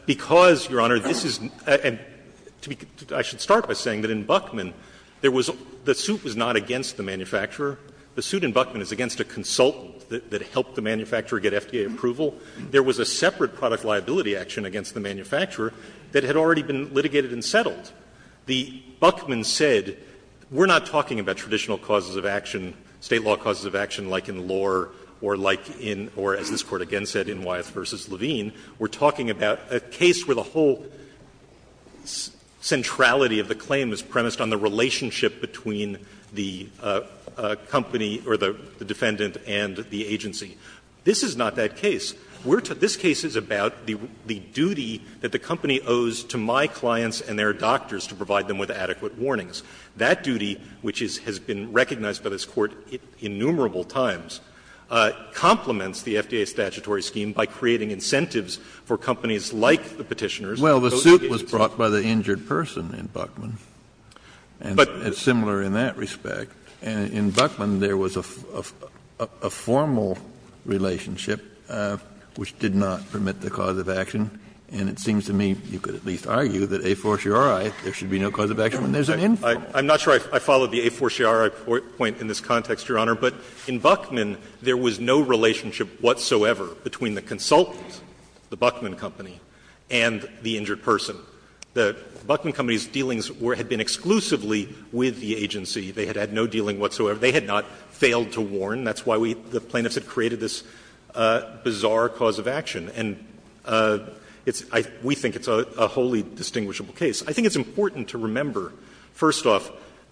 Because, Your Honor, this is – and to be – I should start by saying that in Buckman there was – the suit was not against the manufacturer. The suit in Buckman is against a consultant that helped the manufacturer get FDA approval. There was a separate product liability action against the manufacturer that had already been litigated and settled. The Buckman said, we're not talking about traditional causes of action, State law causes of action like in Lohr or like in – or as this Court again said in Wyeth v. Levine. We're talking about a case where the whole centrality of the claim is premised on the relationship between the company or the defendant and the agency. This is not that case. We're – this case is about the duty that the company owes to my clients and their doctors to provide them with adequate warnings. That duty, which is – has been recognized by this Court innumerable times, complements the FDA statutory scheme by creating incentives for companies like the Petitioner's to go to the agency. Well, the suit was brought by the injured person in Buckman, and it's similar in that respect. And in Buckman there was a formal relationship which did not permit the cause of action. And it seems to me you could at least argue that a fortiori, there should be no cause of action when there's an infant. I'm not sure I followed the a fortiori point in this context, Your Honor. But in Buckman, there was no relationship whatsoever between the consultant, the Buckman company, and the injured person. The Buckman company's dealings were – had been exclusively with the agency. They had had no dealing whatsoever. They had not failed to warn. That's why we – the plaintiffs had created this bizarre cause of action. And it's – we think it's a wholly distinguishable case. I think it's important to remember, first off,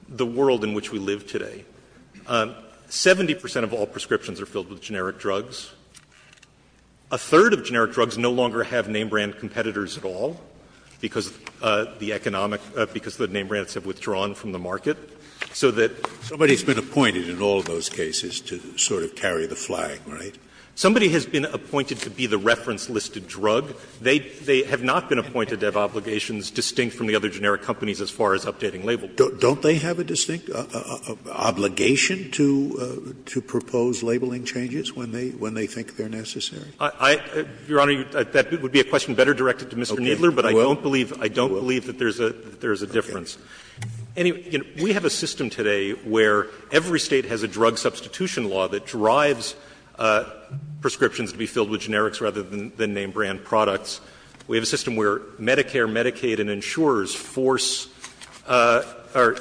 the world in which we live today. Seventy percent of all prescriptions are filled with generic drugs. A third of generic drugs no longer have name-brand competitors at all because the economic – because the name-brands have withdrawn from the market. So that – Scalia Somebody's been appointed in all of those cases to sort of carry the flag, right? Schnapper Somebody has been appointed to be the reference-listed drug. They have not been appointed to have obligations distinct from the other generic companies as far as updating label. Scalia Don't they have a distinct obligation to propose labeling changes when they think they're necessary? Schnapper I – Your Honor, that would be a question better directed to Mr. Kneedler, but I don't believe – Scalia You will? Schnapper I don't believe that there's a difference. Anyway, you know, we have a system today where every State has a drug substitution law that drives prescriptions to be filled with generics rather than name-brand products. We have a system where Medicare, Medicaid, and insurers force – or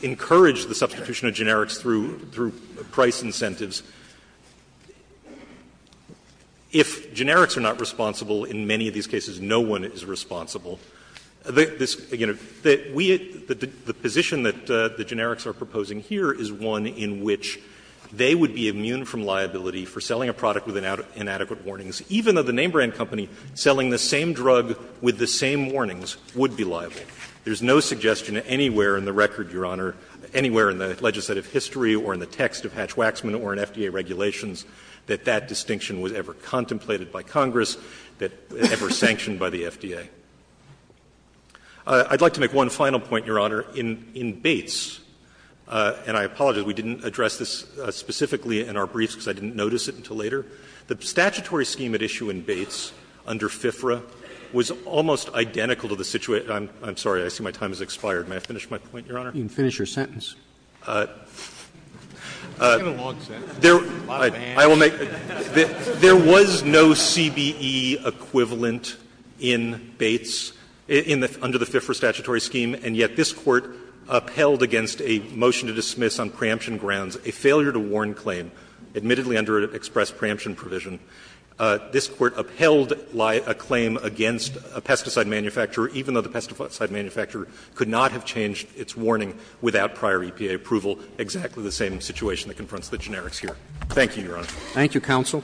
encourage the substitution of generics through price incentives. If generics are not responsible, in many of these cases no one is responsible. This – you know, we – the position that the generics are proposing here is one in which they would be immune from liability for selling a product with inadequate warnings, even though the name-brand company selling the same drug with the same warnings would be liable. There's no suggestion anywhere in the record, Your Honor, anywhere in the legislative history or in the text of Hatch-Waxman or in FDA regulations that that distinction was ever contemplated by Congress, that – ever sanctioned by the FDA. I'd like to make one final point, Your Honor. In Bates – and I apologize, we didn't address this specifically in our briefs because I didn't notice it until later – the statutory scheme at issue in Bates under FIFRA was almost identical to the situation – I'm sorry, I see my time has expired. May I finish my point, Your Honor? Roberts. You can finish your sentence. Give a long sentence. A lot of hands. There was no CBE equivalent in Bates in the – under the FIFRA statutory scheme, and yet this Court upheld against a motion to dismiss on preemption grounds a failure to warn claim, admittedly under an express preemption provision. This Court upheld a claim against a pesticide manufacturer, even though the pesticide manufacturer could not have changed its warning without prior EPA approval, exactly the same situation that confronts the generics here. Thank you, Your Honor. Thank you, counsel.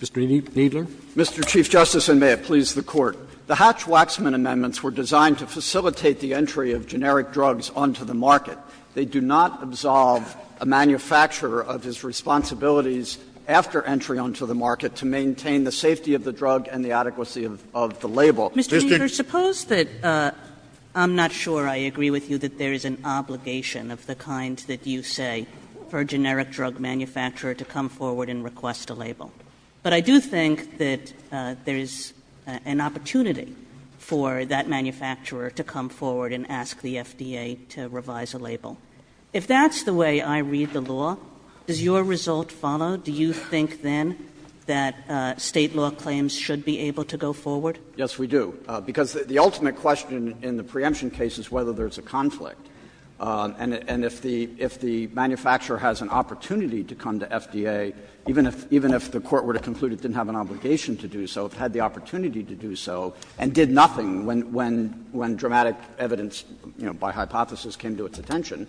Mr. Kneedler. Mr. Chief Justice, and may it please the Court. The Hatch-Waxman amendments were designed to facilitate the entry of generic drugs onto the market. They do not absolve a manufacturer of his responsibilities after entry onto the market to maintain the safety of the drug and the adequacy of the label. Mr. Kneedler, suppose that – I'm not sure I agree with you that there is an obligation of the kind that you say for a generic drug manufacturer to come forward and request a label, but I do think that there is an opportunity for that manufacturer to come forward and ask the FDA to revise a label. If that's the way I read the law, does your result follow? Do you think then that State law claims should be able to go forward? Yes, we do. Because the ultimate question in the preemption case is whether there's a conflict. And if the manufacturer has an opportunity to come to FDA, even if the Court were to conclude it didn't have an obligation to do so, it had the opportunity to do so and did nothing when dramatic evidence, you know, by hypothesis came to its attention,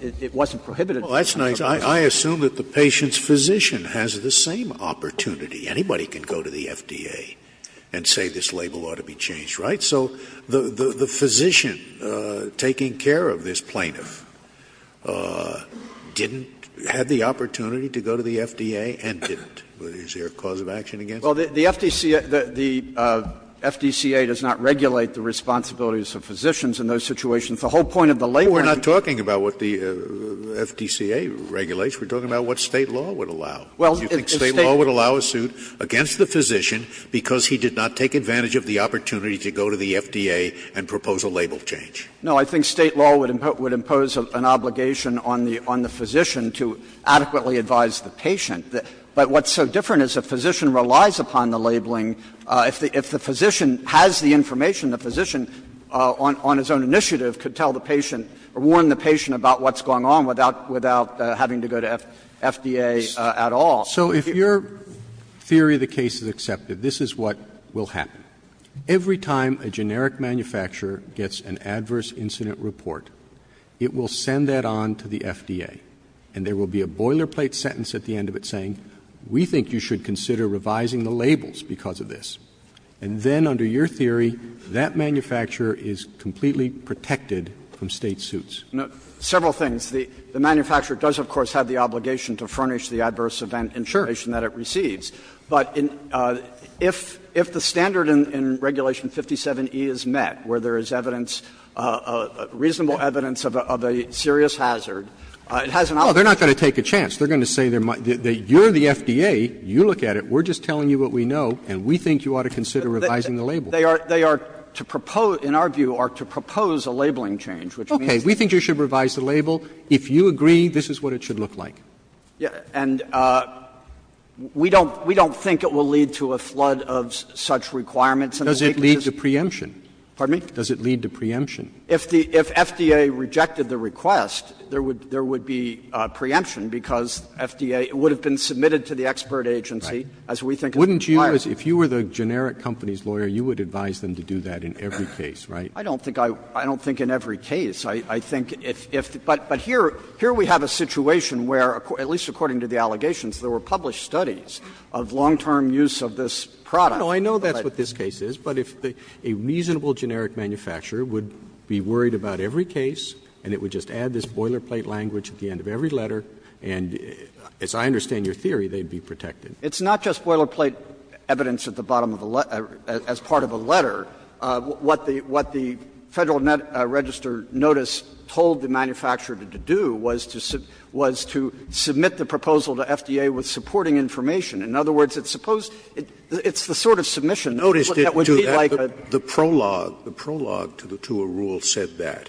it wasn't prohibited. Scalia. Well, that's nice. I assume that the patient's physician has the same opportunity. Anybody can go to the FDA and say this label ought to be changed, right? So the physician taking care of this plaintiff didn't have the opportunity to go to the FDA and didn't. Is there a cause of action against that? Well, the FDCA does not regulate the responsibilities of physicians in those situations. The whole point of the label and the case is that State law would allow a suit to be against the physician because he did not take advantage of the opportunity to go to the FDA and propose a label change. No, I think State law would impose an obligation on the physician to adequately advise the patient. But what's so different is a physician relies upon the labeling. If the physician has the information, the physician on his own initiative could tell the patient or warn the patient about what's going on without having to go to FDA at all. So if your theory of the case is accepted, this is what will happen. Every time a generic manufacturer gets an adverse incident report, it will send that on to the FDA, and there will be a boilerplate sentence at the end of it saying, we think you should consider revising the labels because of this. And then under your theory, that manufacturer is completely protected from State suits. Several things. The manufacturer does, of course, have the obligation to furnish the adverse event information that it receives. But if the standard in Regulation 57E is met where there is evidence, reasonable evidence of a serious hazard, it has an obligation. Roberts. They're not going to take a chance. They're going to say you're the FDA, you look at it, we're just telling you what we know, and we think you ought to consider revising the label. They are to propose, in our view, are to propose a labeling change, which means Okay, we think you should revise the label. If you agree, this is what it should look like. And we don't think it will lead to a flood of such requirements. Does it lead to preemption? Pardon me? Does it lead to preemption? If FDA rejected the request, there would be preemption, because FDA would have been submitted to the expert agency, as we think is the requirement. Wouldn't you, if you were the generic company's lawyer, you would advise them to do that in every case, right? I don't think in every case. I think if the – but here we have a situation where, at least according to the allegations, there were published studies of long-term use of this product. No, I know that's what this case is, but if a reasonable generic manufacturer would be worried about every case, and it would just add this boilerplate language at the end of every letter, and as I understand your theory, they'd be protected. It's not just boilerplate evidence at the bottom of the letter, as part of a letter. What the Federal Register notice told the manufacturer to do was to submit the proposal to FDA with supporting information. In other words, it's supposed to be the sort of submission that would be like a prologue. Scalia, the prologue to a rule said that,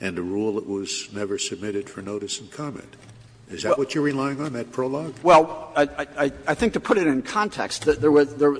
and a rule that was never submitted for notice and comment. Is that what you're relying on, that prologue? Well, I think to put it in context,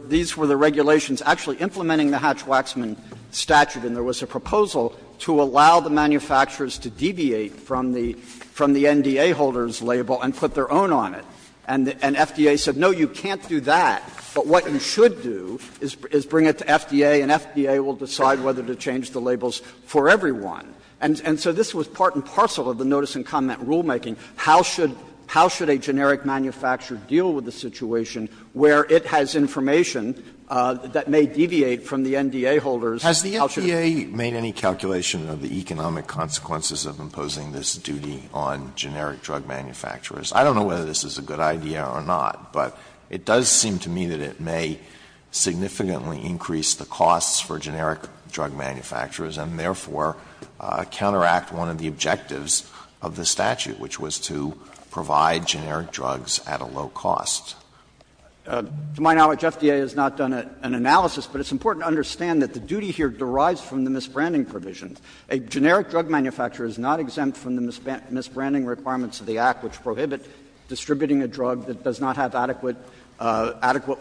these were the regulations actually implementing the Hatch-Waxman statute, and there was a proposal to allow the manufacturers to deviate from the NDA holder's label and put their own on it. And FDA said, no, you can't do that, but what you should do is bring it to FDA, and FDA will decide whether to change the labels for everyone. And so this was part and parcel of the notice and comment rulemaking. How should a generic manufacturer deal with a situation where it has information that may deviate from the NDA holder's? Has the FDA made any calculation of the economic consequences of imposing this duty on generic drug manufacturers? I don't know whether this is a good idea or not, but it does seem to me that it may significantly increase the costs for generic drug manufacturers and therefore counteract one of the objectives of the statute, which was to provide generic drugs at a low cost. To my knowledge, FDA has not done an analysis, but it's important to understand that the duty here derives from the misbranding provisions. A generic drug manufacturer is not exempt from the misbranding requirements of the Act, which prohibit distributing a drug that does not have adequate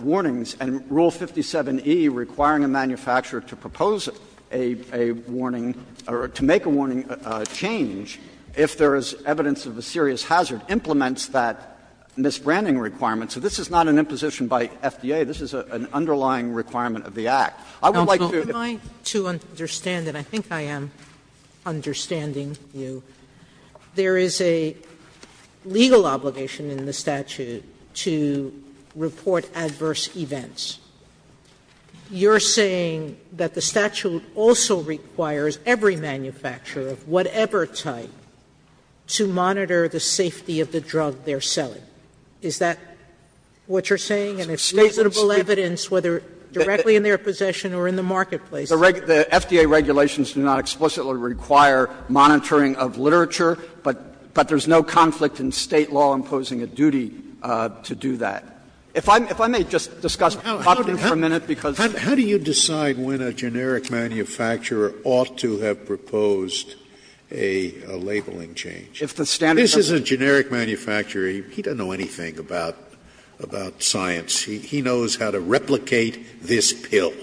warnings. And Rule 57e, requiring a manufacturer to propose a warning or to make a warning change if there is evidence of a serious hazard, implements that misbranding requirement. So this is not an imposition by FDA. This is an underlying requirement of the Act. I would like to do if I could. Sotomayor, to understand, and I think I am understanding you, there is a legal obligation in the statute to report adverse events. You're saying that the statute also requires every manufacturer of whatever type to monitor the safety of the drug they're selling. Is that what you're saying? And if reasonable evidence, whether directly in their possession or in the marketplace is required? The FDA regulations do not explicitly require monitoring of literature, but there is no conflict in State law imposing a duty to do that. If I may just discuss popping for a minute, because How do you decide when a generic manufacturer ought to have proposed a labeling change? If the standard This is a generic manufacturer. He doesn't know anything about science. He knows how to replicate this pill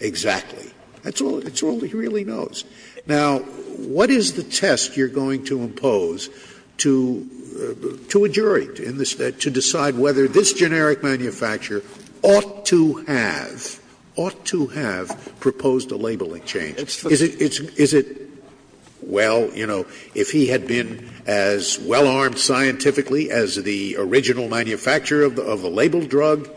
exactly. That's all he really knows. Now, what is the test you're going to impose to a jury to decide whether this generic manufacturer ought to have, ought to have proposed a labeling change? Is it, well, you know, if he had been as well-armed scientifically as the original manufacturer of the labeled drug,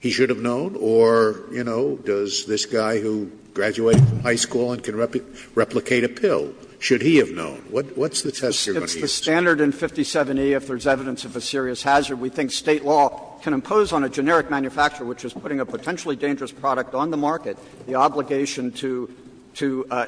he should have known? Or, you know, does this guy who graduated from high school and can replicate a pill, should he have known? What's the test you're going to use? It's the standard in 57E if there is evidence of a serious hazard. We think State law can impose on a generic manufacturer, which is putting a potentially dangerous product on the market, the obligation to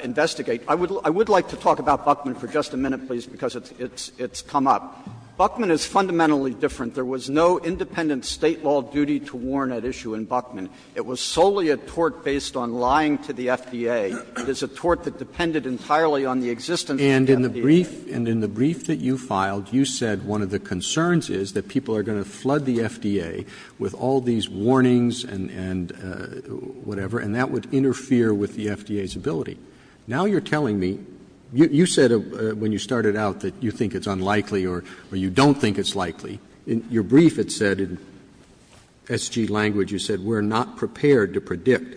investigate. I would like to talk about Buckman for just a minute, please, because it's come up. Buckman is fundamentally different. There was no independent State law duty to warn at issue in Buckman. It was solely a tort based on lying to the FDA. It is a tort that depended entirely on the existence of the FDA. Roberts. And in the brief that you filed, you said one of the concerns is that people are going to flood the FDA with all these warnings and whatever, and that would interfere with the FDA's ability. Now you're telling me, you said when you started out that you think it's unlikely or you don't think it's likely. In your brief it said, in SG language, you said we're not prepared to predict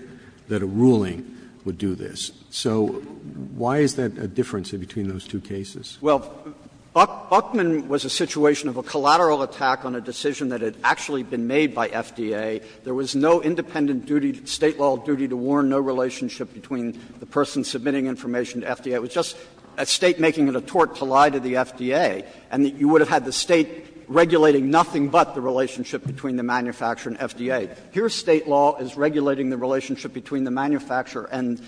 that a ruling would do this. So why is that a difference between those two cases? Well, Buckman was a situation of a collateral attack on a decision that had actually been made by FDA. There was no independent duty, State law duty to warn, no relationship between the person submitting information to FDA. It was just a State making it a tort to lie to the FDA, and you would have had the State regulating nothing but the relationship between the manufacturer and FDA. Here, State law is regulating the relationship between the manufacturer and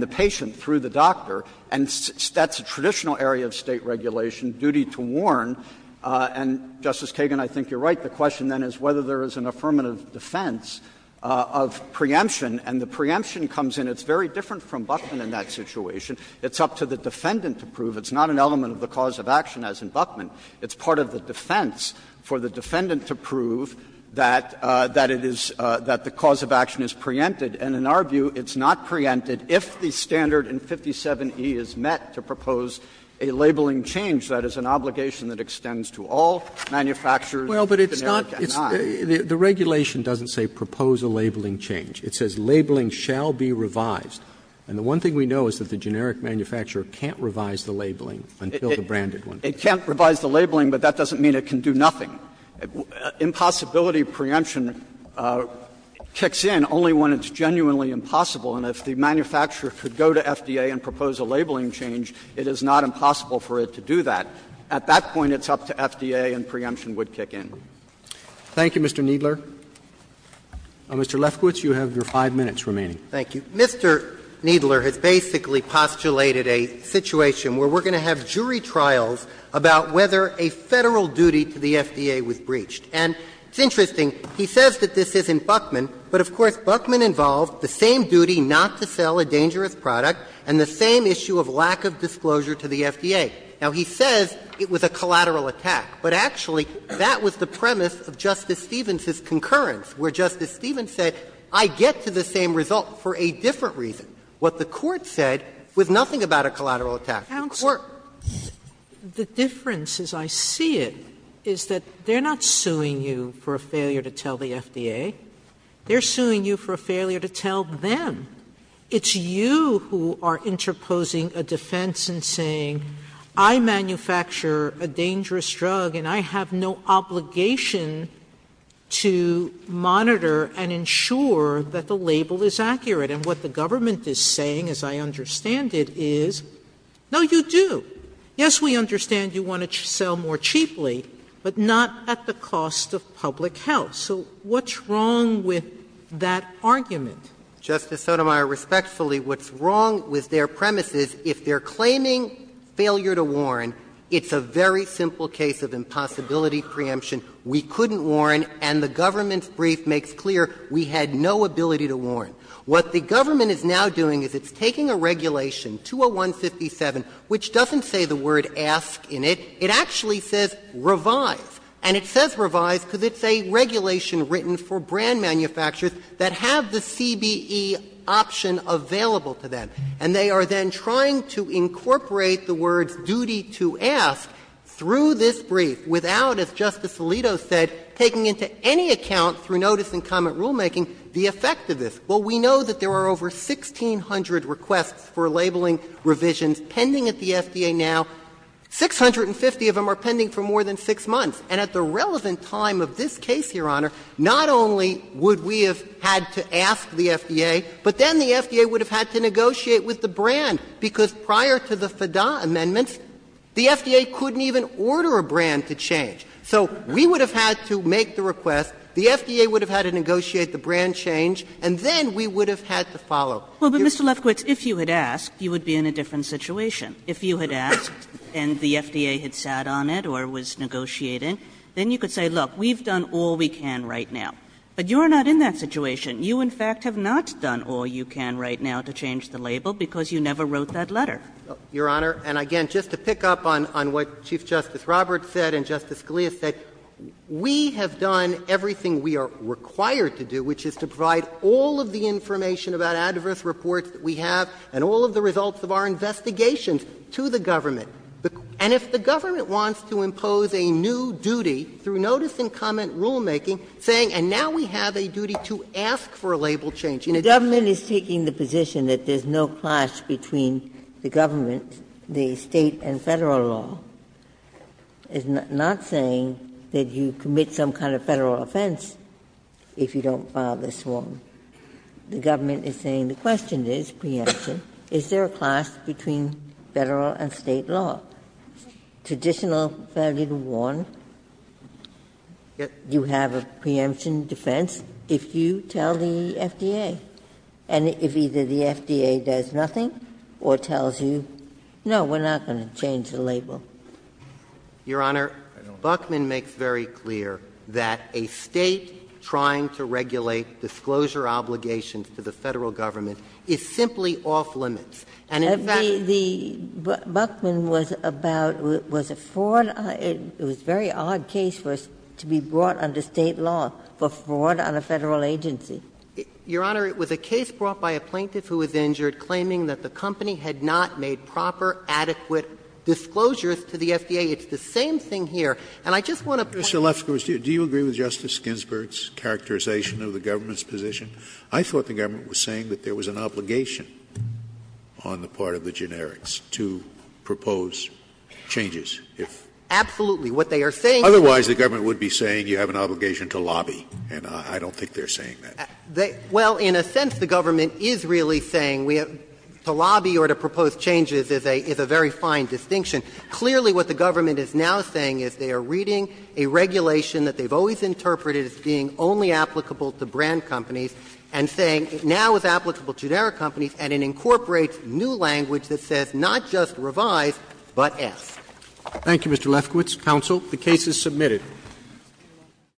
the patient through the doctor. And that's a traditional area of State regulation, duty to warn. And, Justice Kagan, I think you're right. The question then is whether there is an affirmative defense of preemption, and the preemption comes in. It's very different from Buckman in that situation. It's up to the defendant to prove. It's not an element of the cause of action, as in Buckman. It's part of the defense for the defendant to prove that it is — that the cause of action is preempted. And in our view, it's not preempted if the standard in 57E is met to propose a labeling change. That is an obligation that extends to all manufacturers, generic and not. Roberts. Roberts. The regulation doesn't say propose a labeling change. It says labeling shall be revised. And the one thing we know is that the generic manufacturer can't revise the labeling until the branded one. It can't revise the labeling, but that doesn't mean it can do nothing. Impossibility of preemption kicks in only when it's genuinely impossible. And if the manufacturer could go to FDA and propose a labeling change, it is not impossible for it to do that. At that point, it's up to FDA and preemption would kick in. Roberts. Thank you, Mr. Kneedler. Mr. Lefkowitz, you have your 5 minutes remaining. Thank you. Mr. Kneedler has basically postulated a situation where we're going to have jury And it's interesting, he says that this is in Buckman, but, of course, Buckman involved the same duty not to sell a dangerous product and the same issue of lack of disclosure to the FDA. Now, he says it was a collateral attack, but actually that was the premise of Justice Stevens's concurrence, where Justice Stevens said, I get to the same result for a different reason. What the Court said was nothing about a collateral attack. The difference, as I see it, is that they're not suing you for a failure to tell the FDA. They're suing you for a failure to tell them. It's you who are interposing a defense and saying, I manufacture a dangerous drug and I have no obligation to monitor and ensure that the label is accurate. And what the government is saying, as I understand it, is, no, you do. Yes, we understand you want to sell more cheaply, but not at the cost of public health. So what's wrong with that argument? Justice Sotomayor, respectfully, what's wrong with their premise is if they're claiming failure to warn, it's a very simple case of impossibility preemption. We couldn't warn, and the government's brief makes clear we had no ability to warn. What the government is now doing is it's taking a regulation, 201-57, which doesn't say the word ask in it. It actually says revise, and it says revise because it's a regulation written for brand manufacturers that have the CBE option available to them, and they are then trying to incorporate the words duty to ask through this brief without, as Justice Alito said, taking into any account, through notice and comment rulemaking, the effect of this. Well, we know that there are over 1,600 requests for labeling revisions pending at the FDA now. Six hundred and fifty of them are pending for more than six months. And at the relevant time of this case, Your Honor, not only would we have had to ask the FDA, but then the FDA would have had to negotiate with the brand, because prior to the FDAA amendments, the FDA couldn't even order a brand to change. So we would have had to make the request, the FDA would have had to negotiate the brand change, and then we would have had to follow. Kagan Well, but, Mr. Lefkowitz, if you had asked, you would be in a different situation. If you had asked and the FDA had sat on it or was negotiating, then you could say, look, we've done all we can right now. But you are not in that situation. You, in fact, have not done all you can right now to change the label because you never wrote that letter. Lefkowitz Your Honor, and again, just to pick up on what Chief Justice Roberts said and Justice Scalia said, we have done everything we are required to do, which is to provide all of the information about adverse reports that we have and all of the results of our investigations to the government. And if the government wants to impose a new duty through notice and comment rulemaking saying, and now we have a duty to ask for a label change. Ginsburg The government is taking the position that there's no clash between the government, the State and Federal law. It's not saying that you commit some kind of Federal offense if you don't file this form. The government is saying the question is, preemption, is there a clash between Federal and State law? Traditional, fairly to warn, you have a preemption defense if you tell the FDA. And if either the FDA does nothing or tells you, no, we're not going to change the Lefkowitz Your Honor, Buckman makes very clear that a State trying to regulate disclosure obligations to the Federal government is simply off limits. And in fact the — Ginsburg Buckman was about — was a fraud — it was a very odd case for us to be brought under State law for fraud on a Federal agency. Your Honor, it was a case brought by a plaintiff who was injured claiming that the company had not made proper, adequate disclosures to the FDA. It's the same thing here. And I just want to point out— Scalia Mr. Lefkowitz, do you agree with Justice Ginsburg's characterization of the government's position? I thought the government was saying that there was an obligation on the part of the generics to propose changes if— Lefkowitz Absolutely. What they are saying— Scalia Otherwise, the government would be saying you have an obligation to lobby, and I don't think they're saying that. Lefkowitz Well, in a sense, the government is really saying we have to lobby or to propose changes is a very fine distinction. Clearly, what the government is now saying is they are reading a regulation that they've always interpreted as being only applicable to brand companies and saying it now is applicable to generic companies, and it incorporates new language that says not just revise, but S. Roberts Thank you, Mr. Lefkowitz. Counsel, the case is submitted.